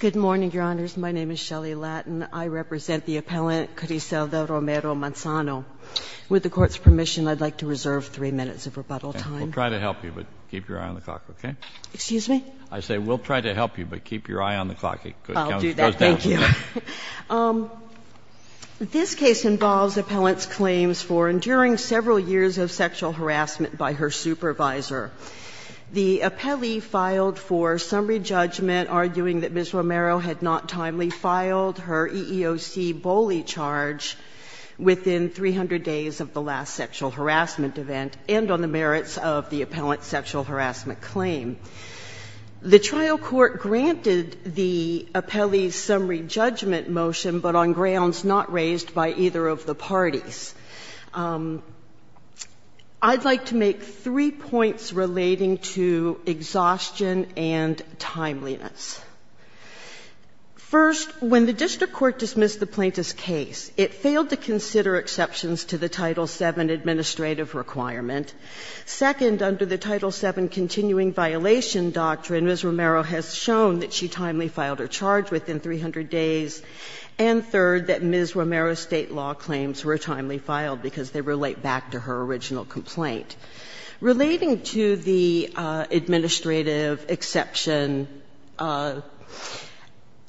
Good morning, Your Honors. My name is Shelley Lattin. I represent the appellant, Cariselda Romero-Manzano. With the Court's permission, I'd like to reserve three minutes of rebuttal time. We'll try to help you, but keep your eye on the clock, OK? Excuse me? I say, we'll try to help you, but keep your eye on the clock. It goes down. I'll do that. Thank you. This case involves appellant's claims for enduring several years of sexual harassment by her supervisor. The appellee filed for summary judgment, arguing that Ms. Romero had not timely filed her EEOC bully charge within 300 days of the last sexual harassment event, and on the merits of the appellant's sexual harassment claim. The trial court granted the appellee's summary judgment motion, but on grounds not raised by either of the parties. I'd like to make three points relating to exhaustion and timeliness. First, when the district court dismissed the plaintiff's case, it failed to consider exceptions to the Title VII administrative requirement. Second, under the Title VII continuing violation doctrine, Ms. Romero has shown that she timely filed her charge within 300 days. And third, that Ms. Romero's state law claims were timely filed. Because they relate back to her original complaint. Relating to the administrative exception,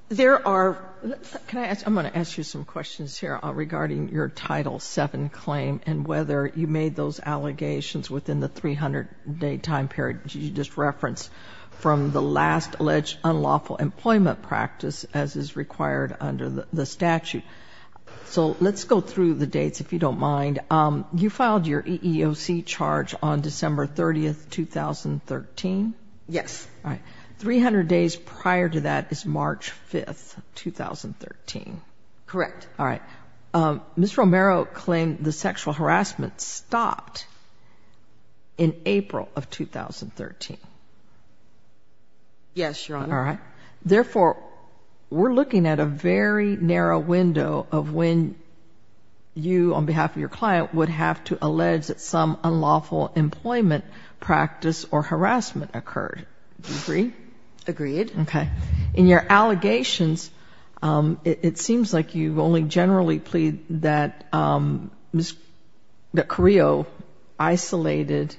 there are, I'm going to ask you some questions here regarding your Title VII claim, and whether you made those allegations within the 300 day time period you just referenced from the last alleged unlawful employment practice, as is required under the statute. So let's go through the dates, if you don't mind. You filed your EEOC charge on December 30, 2013? Yes. 300 days prior to that is March 5, 2013. Correct. All right. Ms. Romero claimed the sexual harassment stopped in April of 2013. Yes, Your Honor. All right. Therefore, we're looking at a very narrow window of when you, on behalf of your client, would have to allege that some unlawful employment practice or harassment occurred. Do you agree? Agreed. OK. In your allegations, it seems like you only generally plead that Ms. Carrillo isolated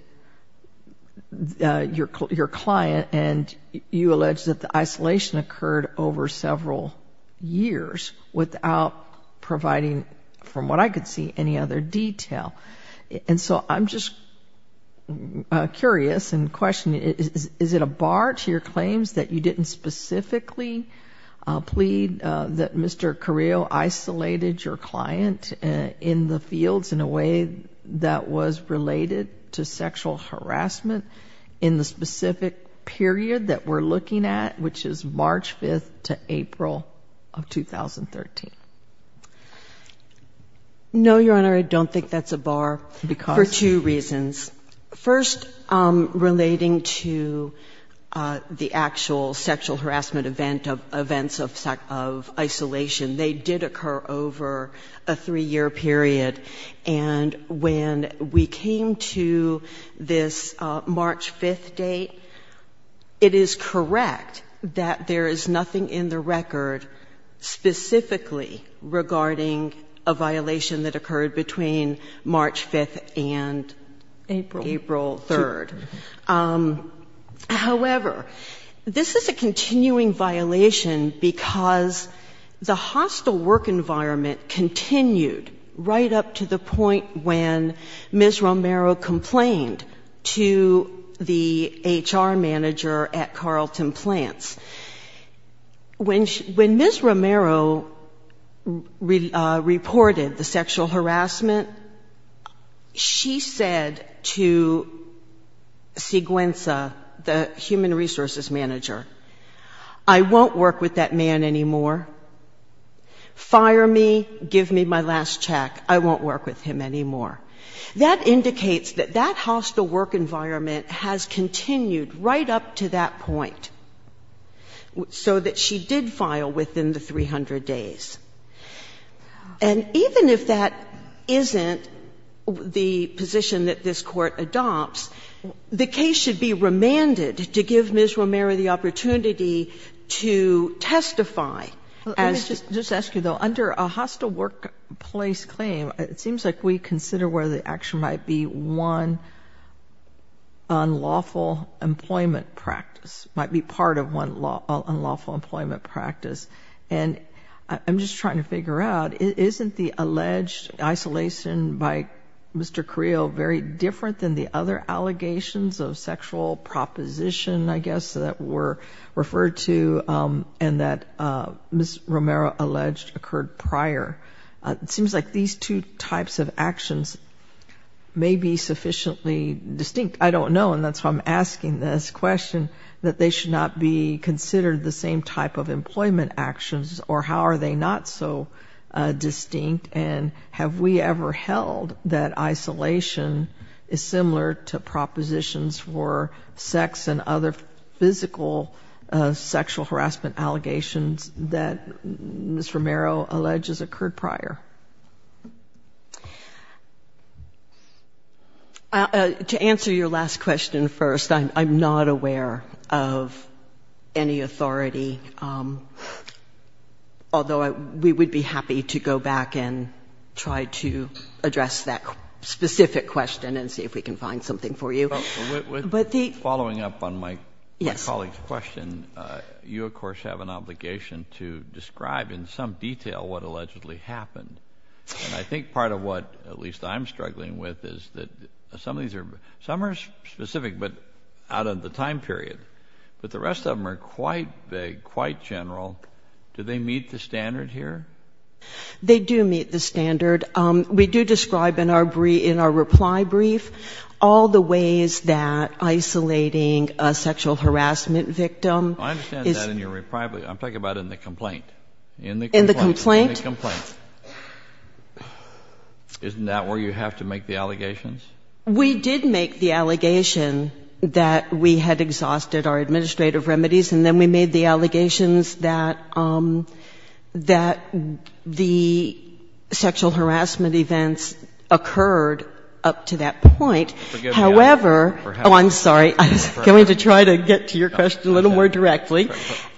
your client, and you allege that the isolation occurred over several years without providing, from what I could see, any other detail. And so I'm just curious and questioning, is it a bar to your claims that you didn't specifically plead that Mr. Carrillo isolated your client in the fields in a way that was related to sexual harassment in the specific period that we're looking at, which is March 5 to April of 2013? No, Your Honor, I don't think that's a bar for two reasons. First, relating to the actual sexual harassment event of events of isolation, they did occur over a three-year period. And when we came to this March 5 date, it is correct that there is nothing in the record specifically regarding a violation that occurred between March 5 and April 3. However, this is a continuing violation because the hostile work environment continued right up to the point when Ms. Romero complained to the HR manager at Carlton Plants. When Ms. Romero reported the sexual harassment, she said to Siguenza, the human resources manager, I won't work with that man anymore. Fire me. Give me my last check. I won't work with him anymore. That indicates that that hostile work environment has continued right up to that point so that she did file within the 300 days. And even if that isn't the position that this court adopts, the case should be remanded to give Ms. Romero the opportunity to testify. Let me just ask you, though. Under a hostile workplace claim, it seems like we consider where the action might be one unlawful employment practice, might be part of one unlawful employment practice. And I'm just trying to figure out, isn't the alleged isolation by Mr. Carrillo very different than the other allegations of sexual proposition, I guess, that were referred to and that Ms. Romero alleged occurred prior? It seems like these two types of actions may be sufficiently distinct. I don't know, and that's why I'm asking this question, that they should not be considered the same type of employment actions, or how are they not so distinct? And have we ever held that isolation is similar to propositions for sex and other physical sexual harassment allegations that Ms. Romero alleges occurred prior? To answer your last question first, I'm not aware of any authority, although we would be happy to go back and try to address that specific question and see if we can find something for you. But following up on my colleague's question, you, of course, have an obligation to describe in some detail what allegedly happened. I think part of what, at least, I'm struggling with is that some are specific, but out of the time period. But the rest of them are quite vague, quite general. Do they meet the standard here? They do meet the standard. We do describe in our reply brief all the ways that isolating a sexual harassment victim is. I understand that in your reply brief. I'm talking about in the complaint. In the complaint? In the complaint. Isn't that where you have to make the allegations? We did make the allegation that we had exhausted our administrative remedies, and then we made the allegations that the sexual harassment events occurred up to that point. However, oh, I'm sorry. I was going to try to get to your question a little more directly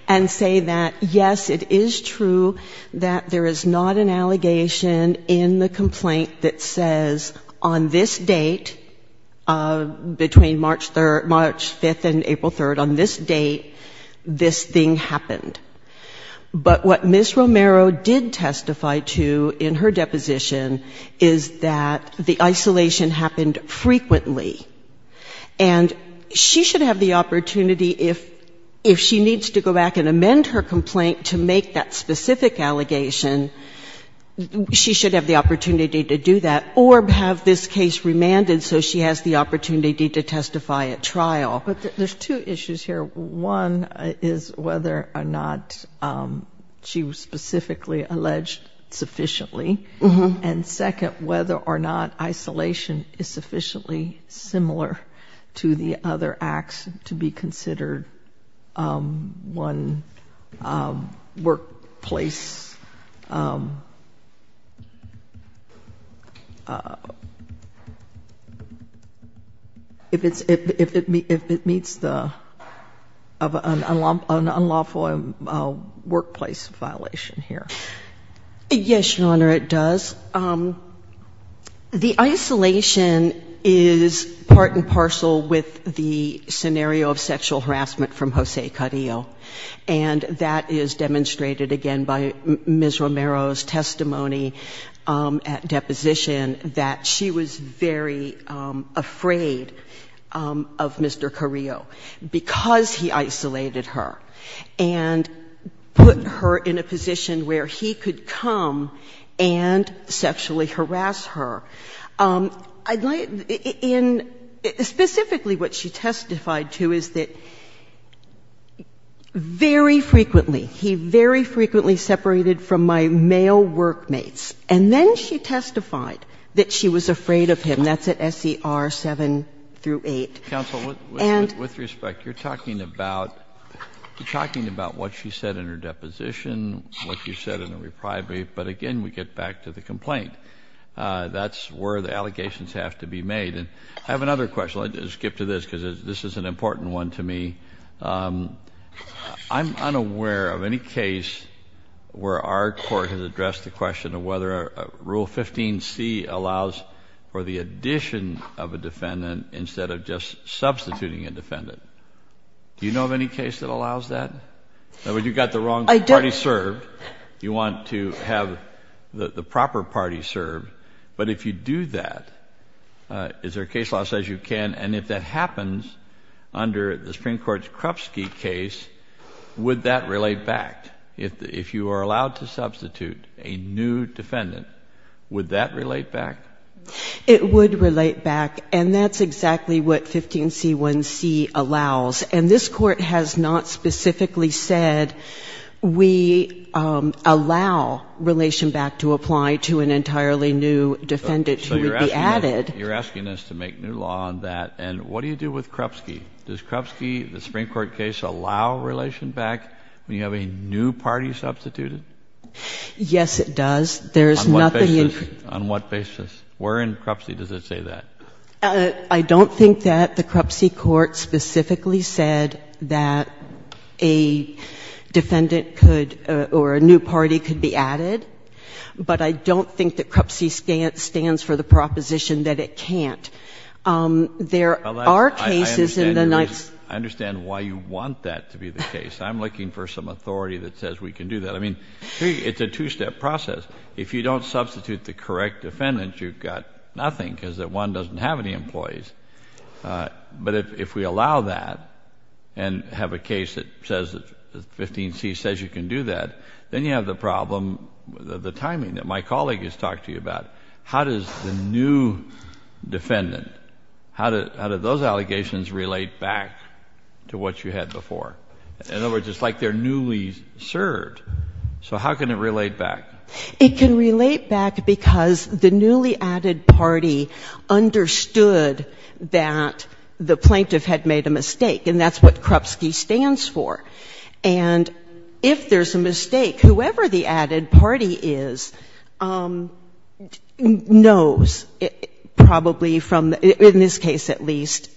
and say that, yes, it is true that there is not an allegation in the complaint that says, on this date, between March 5 and April 3, on this date, this thing happened. But what Ms. Romero did testify to in her deposition is that the isolation happened frequently. And she should have the opportunity, if she needs to go back and amend her complaint to make that specific allegation, she should have the opportunity to do that, or have this case remanded so she has the opportunity to testify at trial. But there's two issues here. One is whether or not she was specifically alleged sufficiently. And second, whether or not isolation is sufficiently similar to the other acts to be considered one workplace, if it meets an unlawful workplace violation here. Yes, Your Honor, it does. So the isolation is part and parcel with the scenario of sexual harassment from Jose Carrillo. And that is demonstrated, again, by Ms. Romero's testimony at deposition that she was very afraid of Mr. Carrillo because he isolated her and put her in a position where he could come and sexually harass her. Specifically, what she testified to is that very frequently, he very frequently separated from my male workmates. And then she testified that she was afraid of him. That's at SCR 7 through 8. Counsel, with respect, you're talking about what she said in her deposition, what you said in the reprieve. But again, we get back to the complaint. That's where the allegations have to be made. And I have another question. I'll skip to this because this is an important one to me. I'm unaware of any case where our court has addressed the question of whether Rule 15c allows for the addition of a defendant instead of just substituting a defendant. Do you know of any case that allows that? In other words, you've got the wrong party served. You want to have the proper party served. But if you do that, is there a case law that says you can? And if that happens under the Supreme Court's Krupski case, would that relate back? If you are allowed to substitute a new defendant, would that relate back? It would relate back. And that's exactly what 15c1c allows. And this court has not specifically said we allow relation back to apply to an entirely new defendant who would be added. You're asking us to make new law on that. And what do you do with Krupski? Does Krupski, the Supreme Court case, allow relation back when you have a new party substituted? Yes, it does. There is nothing in Krupski. On what basis? Where in Krupski does it say that? I don't think that the Krupski court specifically said that a defendant could, or a new party could be added. But I don't think that Krupski stands for the proposition that it can't. There are cases in the Knights. I understand why you want that to be the case. I'm looking for some authority that says we can do that. I mean, it's a two-step process. If you don't substitute the correct defendant, you've got nothing, because one doesn't have any employees. But if we allow that and have a case that says that 15C says you can do that, then you have the problem, the timing that my colleague has talked to you about. How does the new defendant, how do those allegations relate back to what you had before? In other words, it's like they're newly served. So how can it relate back? It can relate back because the newly added party understood that the plaintiff had made a mistake, and that's what Krupski stands for. And if there's a mistake, whoever the added party is knows, probably from, in this case at least,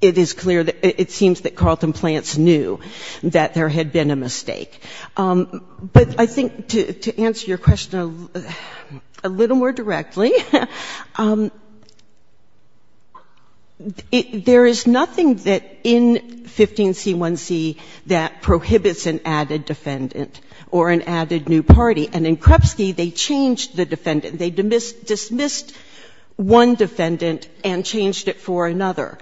it is clear that it seems that Carleton Plants knew that there had been a mistake. But I think to answer your question a little more directly, there is nothing that in 15C1C that prohibits an added defendant or an added new party. And in Krupski, they changed the defendant. They dismissed one defendant and changed it for another.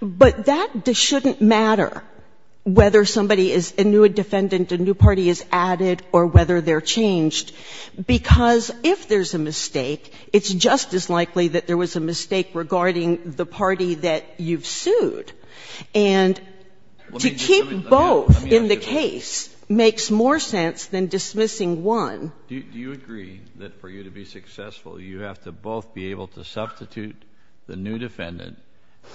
But that shouldn't matter whether somebody is a new party is added or whether they're changed. Because if there's a mistake, it's just as likely that there was a mistake regarding the party that you've sued. And to keep both in the case makes more sense than dismissing one. Do you agree that for you to be successful, you have to both be able to substitute the new defendant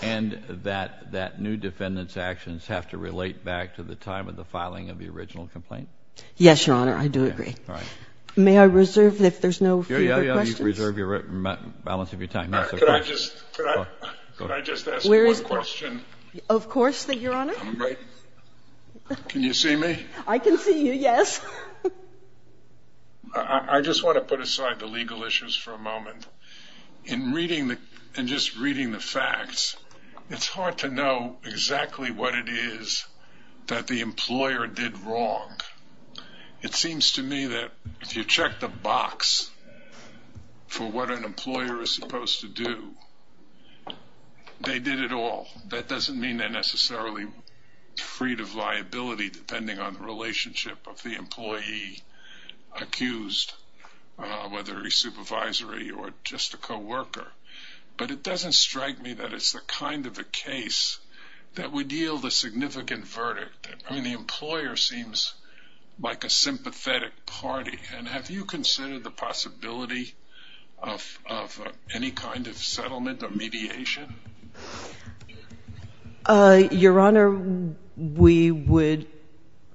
and that new defendant's actions have to relate back to the time of the filing of the original complaint? Yes, Your Honor, I do agree. May I reserve, if there's no further questions? Yeah, yeah, yeah, you reserve the balance of your time. Could I just ask one question? Of course, Your Honor. Can you see me? I can see you, yes. I just want to put aside the legal issues for a moment. In reading and just reading the facts, it's hard to know exactly what it is that the employer did wrong. It seems to me that if you check the box for what an employer is supposed to do, they did it all. That doesn't mean they're necessarily freed of liability, depending on the relationship of the employee accused, whether a supervisory or just a co-worker. But it doesn't strike me that it's the kind of a case that would yield a significant verdict. The employer seems like a sympathetic party. And have you considered the possibility of any kind of settlement or mediation? Your Honor, we would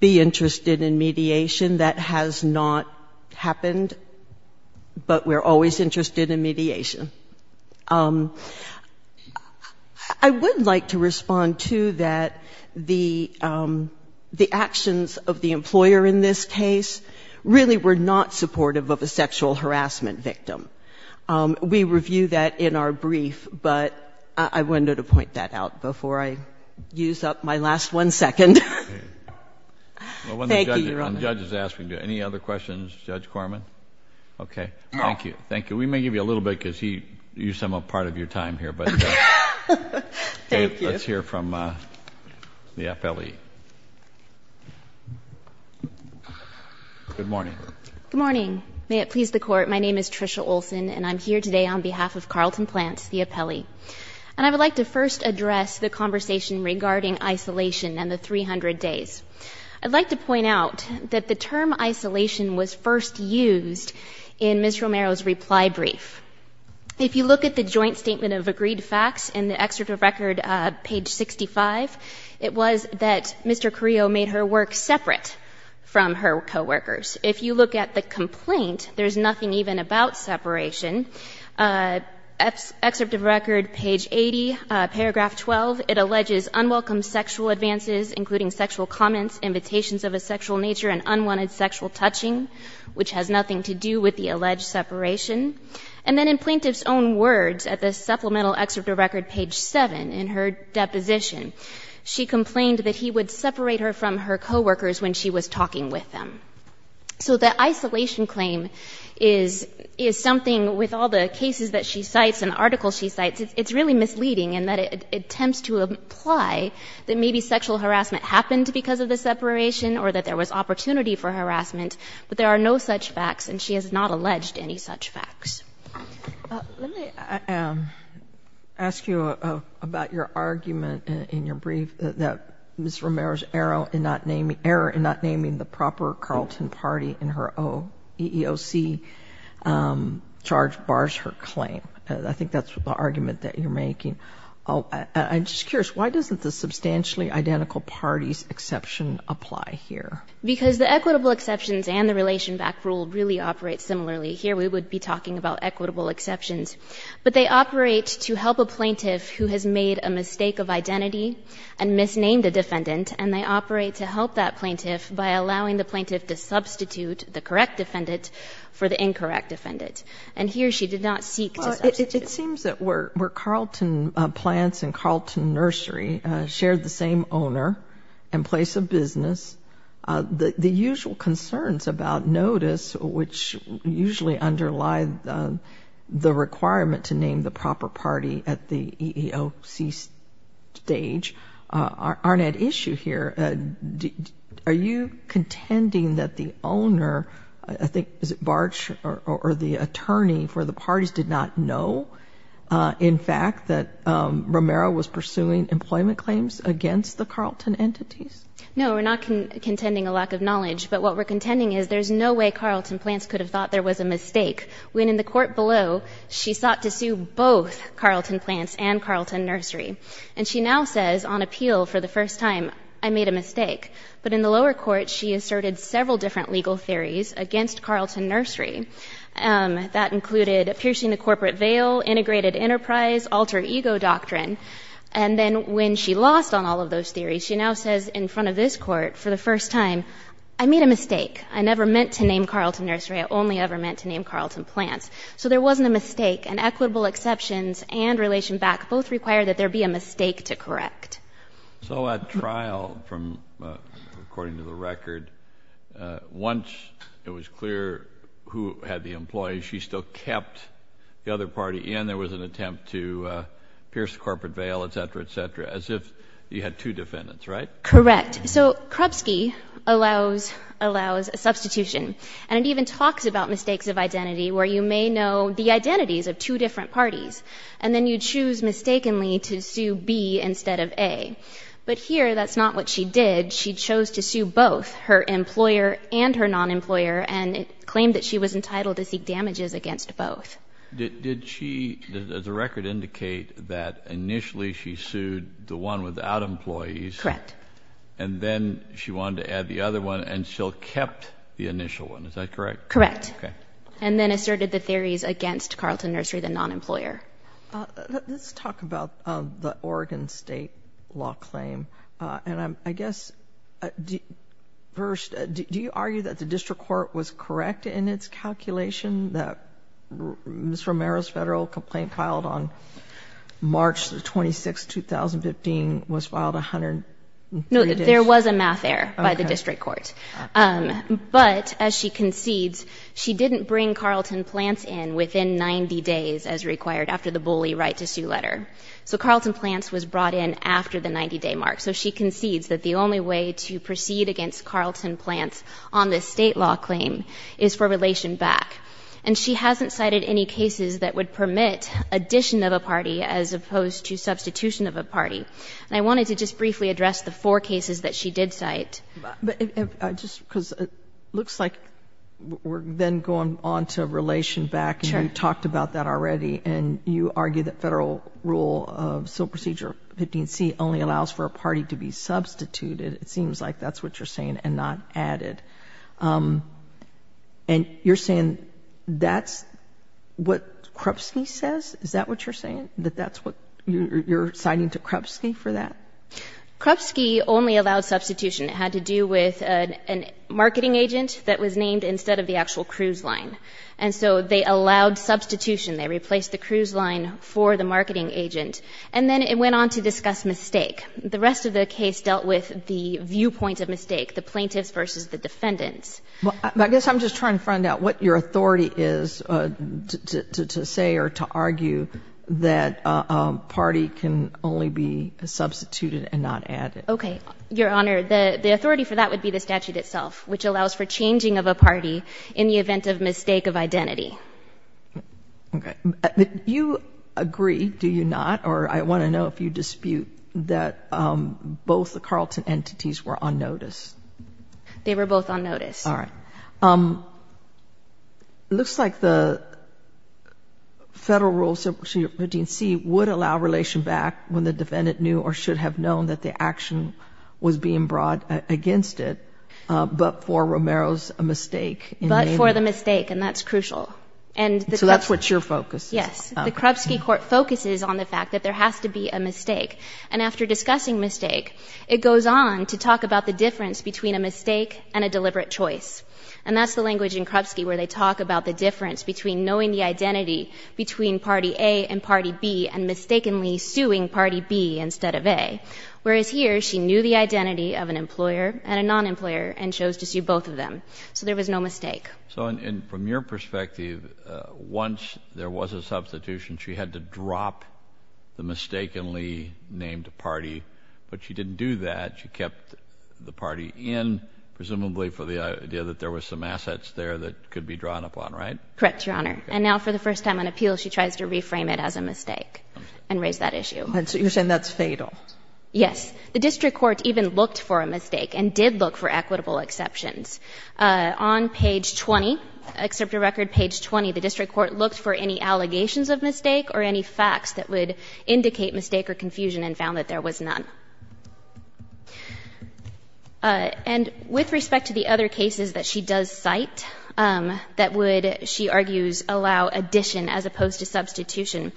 be interested in mediation. That has not happened, but we're always interested in mediation. I would like to respond to that the actions of the employer in this case really were not supportive of a sexual harassment victim. We review that in our brief, but I wanted to point that out before I use up my last one second. Thank you, Your Honor. The judge is asking you. OK, thank you. Thank you. We may give you a little bit, because you sum up part of your time here. But let's hear from the appellee. Good morning. Good morning. May it please the court, my name is Tricia Olson, and I'm here today on behalf of Carlton Plants, the appellee. And I would like to first address the conversation regarding isolation and the 300 days. I'd like to point out that the term isolation was first used in Ms. Romero's reply brief. If you look at the joint statement of agreed facts in the excerpt of record page 65, it was that Mr. Carrillo made her work separate from her co-workers. If you look at the complaint, there's nothing even about separation. Excerpt of record page 80, paragraph 12, it alleges unwelcome sexual advances, including sexual comments, invitations of a sexual nature, and unwanted sexual touching, which has nothing to do with the alleged separation. And then in plaintiff's own words at the supplemental excerpt of record page 7 in her deposition, she complained that he would separate her from her co-workers when she was talking with them. So the isolation claim is something, with all the cases that she cites and articles she cites, it's really misleading in that it attempts to imply that maybe sexual harassment happened because of the separation, or that there was opportunity for harassment. But there are no such facts, and she has not alleged any such facts. Let me ask you about your argument in your brief that Ms. Romero's error in not naming the proper Carlton party in her OEOC charge bars her claim. I think that's the argument that you're making. I'm just curious, why doesn't the substantially identical parties exception apply here? Because the equitable exceptions and the relation back rule really operate similarly. Here, we would be talking about equitable exceptions. But they operate to help a plaintiff who has made a mistake of identity and misnamed a defendant, and they operate to help that plaintiff by allowing the plaintiff to substitute the correct defendant for the incorrect defendant. And here, she did not seek to substitute. It seems that where Carlton Plants and Carlton Nursery shared the same owner and place of business, the usual concerns about notice, which usually underlie the requirement to name the proper party at the OEOC stage, aren't at issue here. Are you contending that the owner, I think, is it Bartsch, or the attorney for the parties did not know, in fact, that Romero was pursuing employment claims against the Carlton entities? No, we're not contending a lack of knowledge. But what we're contending is there's no way Carlton Plants could have thought there was a mistake when, in the court below, she sought to sue both Carlton Plants and Carlton Nursery. And she now says, on appeal, for the first time, I made a mistake. But in the lower court, she asserted several different legal theories against Carlton Nursery. That included piercing the corporate veil, integrated enterprise, alter ego doctrine. And then when she lost on all of those theories, she now says in front of this court, for the first time, I made a mistake. I never meant to name Carlton Nursery. I only ever meant to name Carlton Plants. So there wasn't a mistake. And equitable exceptions and relation back both require that there be a mistake to correct. So at trial, according to the record, once it was clear who had the employees, she still kept the other party in. There was an attempt to pierce the corporate veil, et cetera, et cetera, as if you had two defendants, right? Correct. So Krupski allows a substitution. And it even talks about mistakes of identity, where you may know the identities of two different parties. And then you choose mistakenly to sue B instead of A. But here, that's not what she did. She chose to sue both, her employer and her non-employer. And it claimed that she was entitled to seek damages against both. Did she, as a record, indicate that initially she sued the one without employees? Correct. And then she wanted to add the other one, and still kept the initial one. Is that correct? Correct. And then asserted the theories against Carlton Nursery, the non-employer. Let's talk about the Oregon State law claim. And I guess, first, do you argue that the district court was correct in its calculation that Ms. Romero's federal complaint filed on March 26, 2015 was filed 103 days? No, there was a math error by the district court. But as she concedes, she didn't bring Carlton Plants in within 90 days, as required after the bully right to sue letter. So Carlton Plants was brought in after the 90-day mark. So she concedes that the only way to proceed against Carlton Plants on this state law claim is for relation back. And she hasn't cited any cases that would permit addition of a party, as opposed to substitution of a party. And I wanted to just briefly address the four cases that she did cite. But just because it looks like we're then going on to relation back, and you talked about that already. And you argue that federal rule of civil procedure 15C only allows for a party to be substituted. It seems like that's what you're saying, and not added. And you're saying that's what Krupski says? Is that what you're saying? That that's what you're citing to Krupski for that? Krupski only allowed substitution. It had to do with a marketing agent that was named instead of the actual cruise line. And so they allowed substitution. They replaced the cruise line for the marketing agent. And then it went on to discuss mistake. The rest of the case dealt with the viewpoint of mistake, the plaintiffs versus the defendants. Well, I guess I'm just trying to find out what your authority is to say or to argue that a party can only be substituted and not added. OK, Your Honor. The authority for that would be the statute itself, which allows for changing of a party in the event of mistake of identity. OK. You agree, do you not? Or I want to know if you dispute that both the Carlton entities were on notice. They were both on notice. All right. It looks like the federal rule, section 15C, would allow relation back when the defendant knew or should have known that the action was being brought against it, but for Romero's mistake. But for the mistake, and that's crucial. So that's what your focus is. Yes. The Krupski court focuses on the fact that there has to be a mistake. And after discussing mistake, it goes on to talk about the difference between a mistake and a deliberate choice. And that's the language in Krupski where they talk about the difference between knowing the identity between party A and party B and mistakenly suing party B instead of A. Whereas here, she knew the identity of an employer and a non-employer and chose to sue both of them. So there was no mistake. So from your perspective, once there was a substitution, she had to drop the mistakenly named party. But she didn't do that. She kept the party in, presumably for the idea that there was some assets there that could be drawn upon, right? Correct, Your Honor. And now for the first time on appeal, she tries to reframe it as a mistake and raise that issue. You're saying that's fatal. Yes. The district court even looked for a mistake and did look for equitable exceptions. On page 20, acceptor record page 20, the district court looked for any allegations of mistake or any facts that would indicate mistake or confusion and found that there was none. And with respect to the other cases that she does cite that would, she argues, allow addition as opposed to substitution,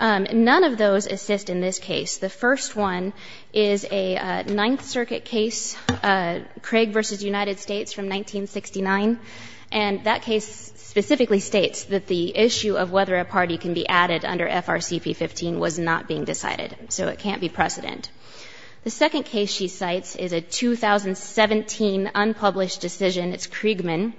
none of those assist in this case. The first one is a Ninth Circuit case, Craig versus United States from 1969. And that case specifically states that the issue of whether a party can be added under FRCP-15 was not being decided. So it can't be precedent. The second case she cites is a 2017 unpublished decision. It's Kriegman.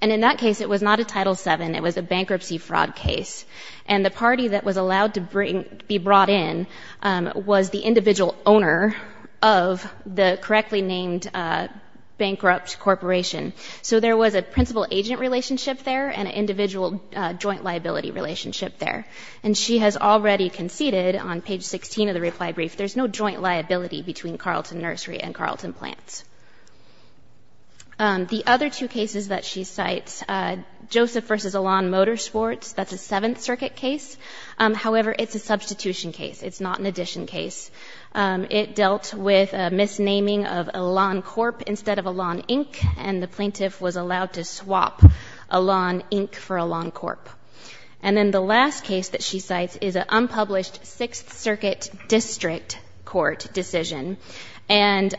And in that case, it was not a Title VII. It was a bankruptcy fraud case. And the party that was allowed to be brought in was the individual owner of the correctly named bankrupt corporation. So there was a principal-agent relationship there and an individual joint liability relationship there. And she has already conceded on page 16 of the reply brief, there's no joint liability between Carleton Nursery and Carleton Plants. The other two cases that she cites, Joseph versus Elan Motorsports, that's a Seventh Circuit case. However, it's a substitution case. It's not an addition case. It dealt with a misnaming of Elan Corp instead of Elan Inc. And the plaintiff was allowed to swap Elan Inc. for Elan Corp. And then the last case that she cites is an unpublished Sixth Circuit District Court decision. And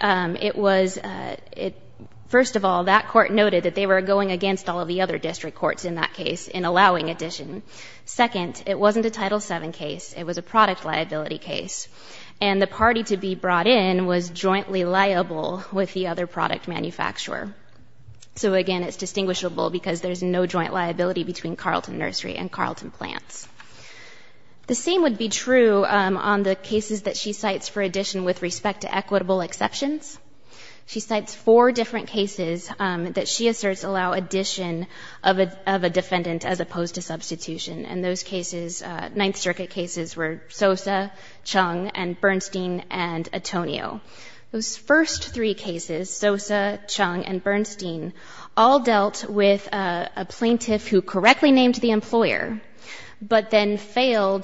first of all, that court noted that they were going against all of the other district courts in that case in allowing addition. Second, it wasn't a Title VII case. It was a product liability case. And the party to be brought in was jointly liable with the other product manufacturer. So again, it's distinguishable because there's no joint liability between Carleton Nursery and Carleton Plants. The same would be true on the cases that she cites for addition with respect to equitable exceptions. She cites four different cases that she asserts allow addition of a defendant as opposed to substitution. And those cases, Ninth Circuit cases were Sosa, Chung, and Bernstein, and Antonio. Those first three cases, Sosa, Chung, and Bernstein, all dealt with a plaintiff who correctly named the employer but then failed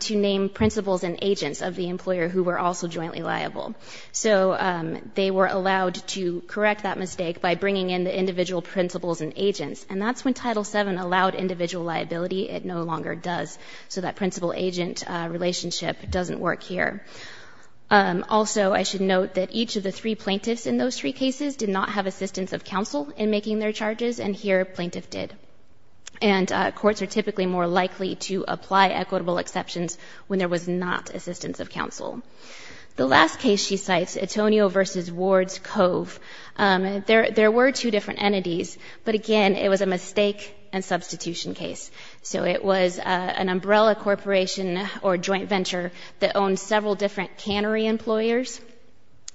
to name principals and agents of the employer who were also jointly liable. So they were allowed to correct that mistake by bringing in the individual principals and agents. And that's when Title VII allowed individual liability. It no longer does. So that principal-agent relationship doesn't work here. Also, I should note that each of the three plaintiffs in those three cases did not have assistance of counsel in making their charges, and here, plaintiff did. to apply equitable exceptions when there was not assistance of counsel. The last case she cites, Antonio v. Ward's Cove, there were two different entities, but again, it was a mistake and substitution case. So it was an umbrella corporation or joint venture that owned several different cannery employers,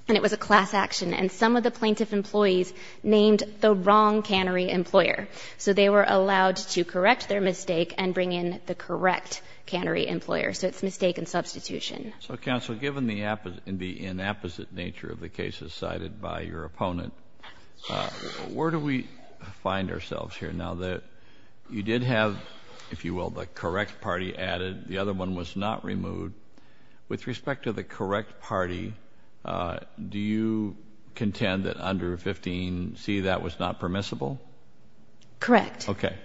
and it was a class action. And some of the plaintiff employees named the wrong cannery employer. So they were allowed to correct their mistake and bring in the correct cannery employer. So it's mistake and substitution. So counsel, given the inapposite nature of the cases cited by your opponent, where do we find ourselves here now that you did have, if you will, the correct party added, the other one was not removed. With respect to the correct party, do you contend that under 15C, that was not permissible? Correct, yes. Okay.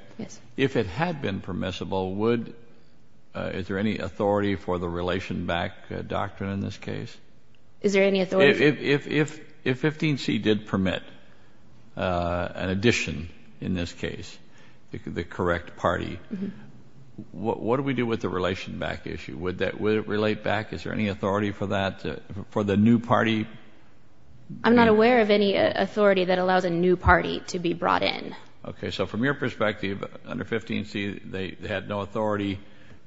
If it had been permissible, would, is there any authority for the relation back doctrine in this case? Is there any authority? If 15C did permit an addition in this case, the correct party, what do we do with the relation back issue? Would it relate back? Is there any authority for that, for the new party? I'm not aware of any authority that allows a new party to be brought in. Okay, so from your perspective, under 15C, they had no authority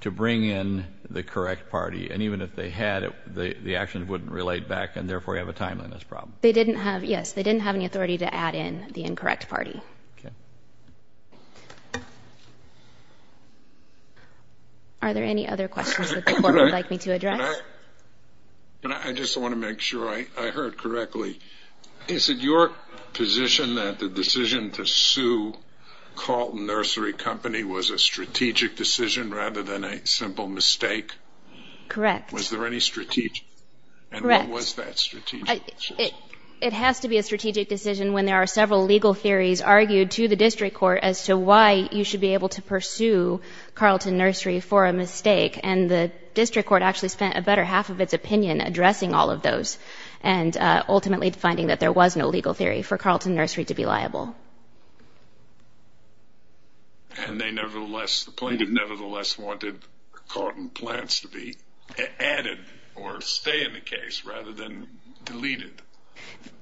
to bring in the correct party. And even if they had, the actions wouldn't relate back and therefore you have a timeliness problem. They didn't have, yes. They didn't have any authority to add in the incorrect party. Okay. Are there any other questions that the court would like me to address? I just wanna make sure I heard correctly. Is it your position that the decision to sue Carlton Nursery Company was a strategic decision rather than a simple mistake? Correct. Was there any strategic? Correct. And what was that strategic decision? It has to be a strategic decision when there are several legal theories argued to the district court as to why you should be able to pursue Carlton Nursery for a mistake. And the district court actually spent a better half of its opinion addressing all of those and ultimately finding that there was no legal theory for Carlton Nursery to be liable. And they nevertheless, the plaintiff nevertheless wanted Carlton plants to be added or stay in the case rather than deleted.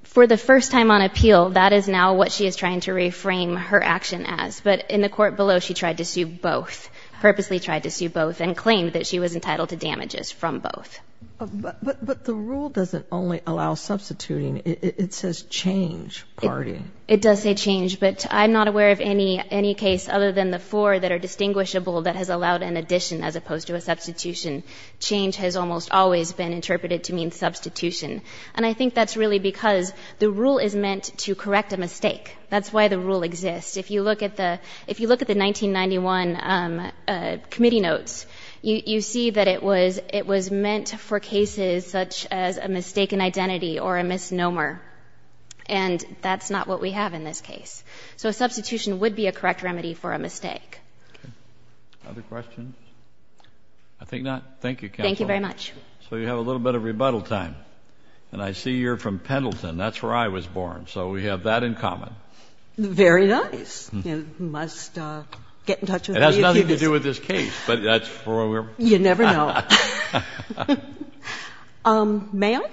For the first time on appeal, that is now what she is trying to reframe her action as. But in the court below, she tried to sue both, purposely tried to sue both and claimed that she was entitled to damages from both. But the rule doesn't only allow substituting. It says change party. It does say change, but I'm not aware of any case other than the four that are distinguishable that has allowed an addition as opposed to a substitution. Change has almost always been interpreted to mean substitution. And I think that's really because the rule is meant to correct a mistake. That's why the rule exists. If you look at the 1991 committee notes, you see that it was meant for cases such as a mistaken identity or a misnomer. And that's not what we have in this case. So a substitution would be a correct remedy for a mistake. Other questions? I think not. Thank you counsel. Thank you very much. So you have a little bit of rebuttal time and I see you're from Pendleton. That's where I was born. So we have that in common. Very nice. You must get in touch with me. It has nothing to do with this case, but that's for. You never know. May I?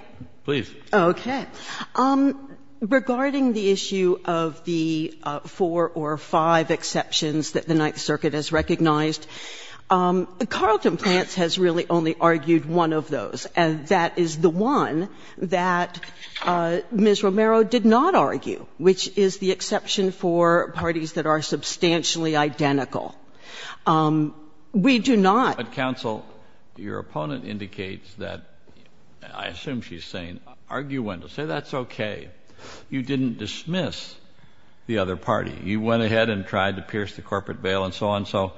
Please. Okay. Regarding the issue of the four or five exceptions that the Ninth Circuit has recognized, Carlton Plants has really only argued one of those. And that is the one that Ms. Romero did not argue, which is the exception for parties that are substantially identical. We do not. But counsel, your opponent indicates that, I assume she's saying, argue one. Say that's okay. You didn't dismiss the other party. You went ahead and tried to pierce the corporate bail and so on. So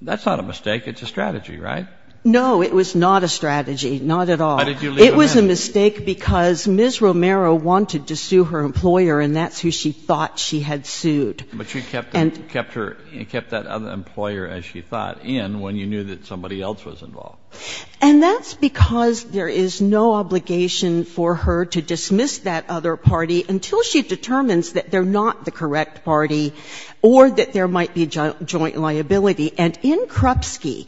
that's not a mistake. It's a strategy, right? No, it was not a strategy. Not at all. It was a mistake because Ms. Romero wanted to sue her employer and that's who she thought she had sued. But you kept that other employer, as she thought, in when you knew that somebody else was involved. And that's because there is no obligation for her to dismiss that other party until she determines that they're not the correct party or that there might be joint liability. And in Krupski,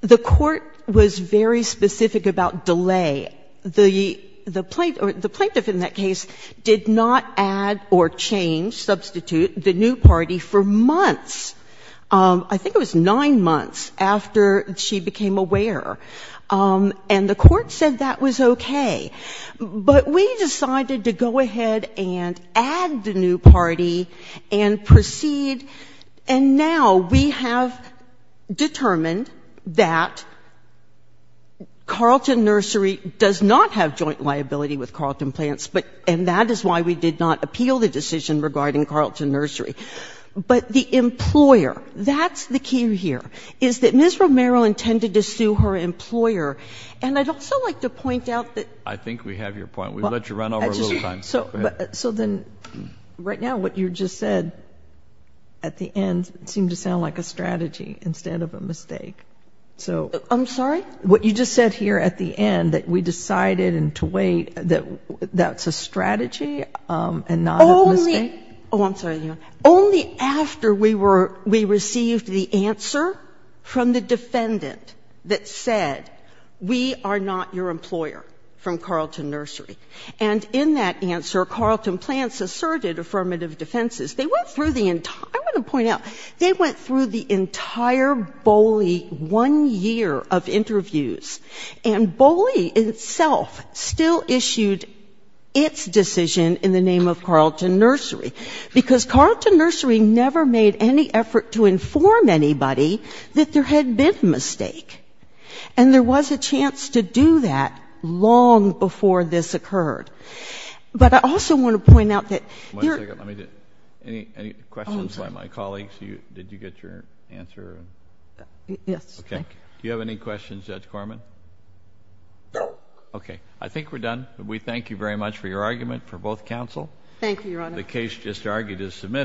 the court was very specific about delay. The plaintiff in that case did not add or change, substitute the new party for months. I think it was nine months after she became aware. And the court said that was okay. But we decided to go ahead and add the new party and proceed. And now we have determined that Carleton Nursery does not have joint liability with Carleton Plants, and that is why we did not appeal the decision regarding Carleton Nursery. But the employer, that's the key here, is that Ms. Romero intended to sue her employer. And I'd also like to point out that- I think we have your point. We've let you run over a little time. So then right now, what you just said at the end seemed to sound like a strategy instead of a mistake. So- I'm sorry? What you just said here at the end, that we decided and to wait, that that's a strategy and not a mistake? Oh, I'm sorry. Only after we received the answer from the defendant that said, we are not your employer from Carleton Nursery. And in that answer, Carleton Plants asserted affirmative defenses. They went through the entire- I want to point out, they went through the entire BOLI one year of interviews. And BOLI itself still issued its decision in the name of Carleton Nursery. Because Carleton Nursery never made any effort to inform anybody that there had been a mistake. And there was a chance to do that long before this occurred. But I also want to point out that- One second, let me just- Any questions by my colleagues? Did you get your answer? Yes, thank you. Okay, do you have any questions, Judge Corman? No. Okay, I think we're done. We thank you very much for your argument for both counsel. Thank you, Your Honor. The case just argued is submitted.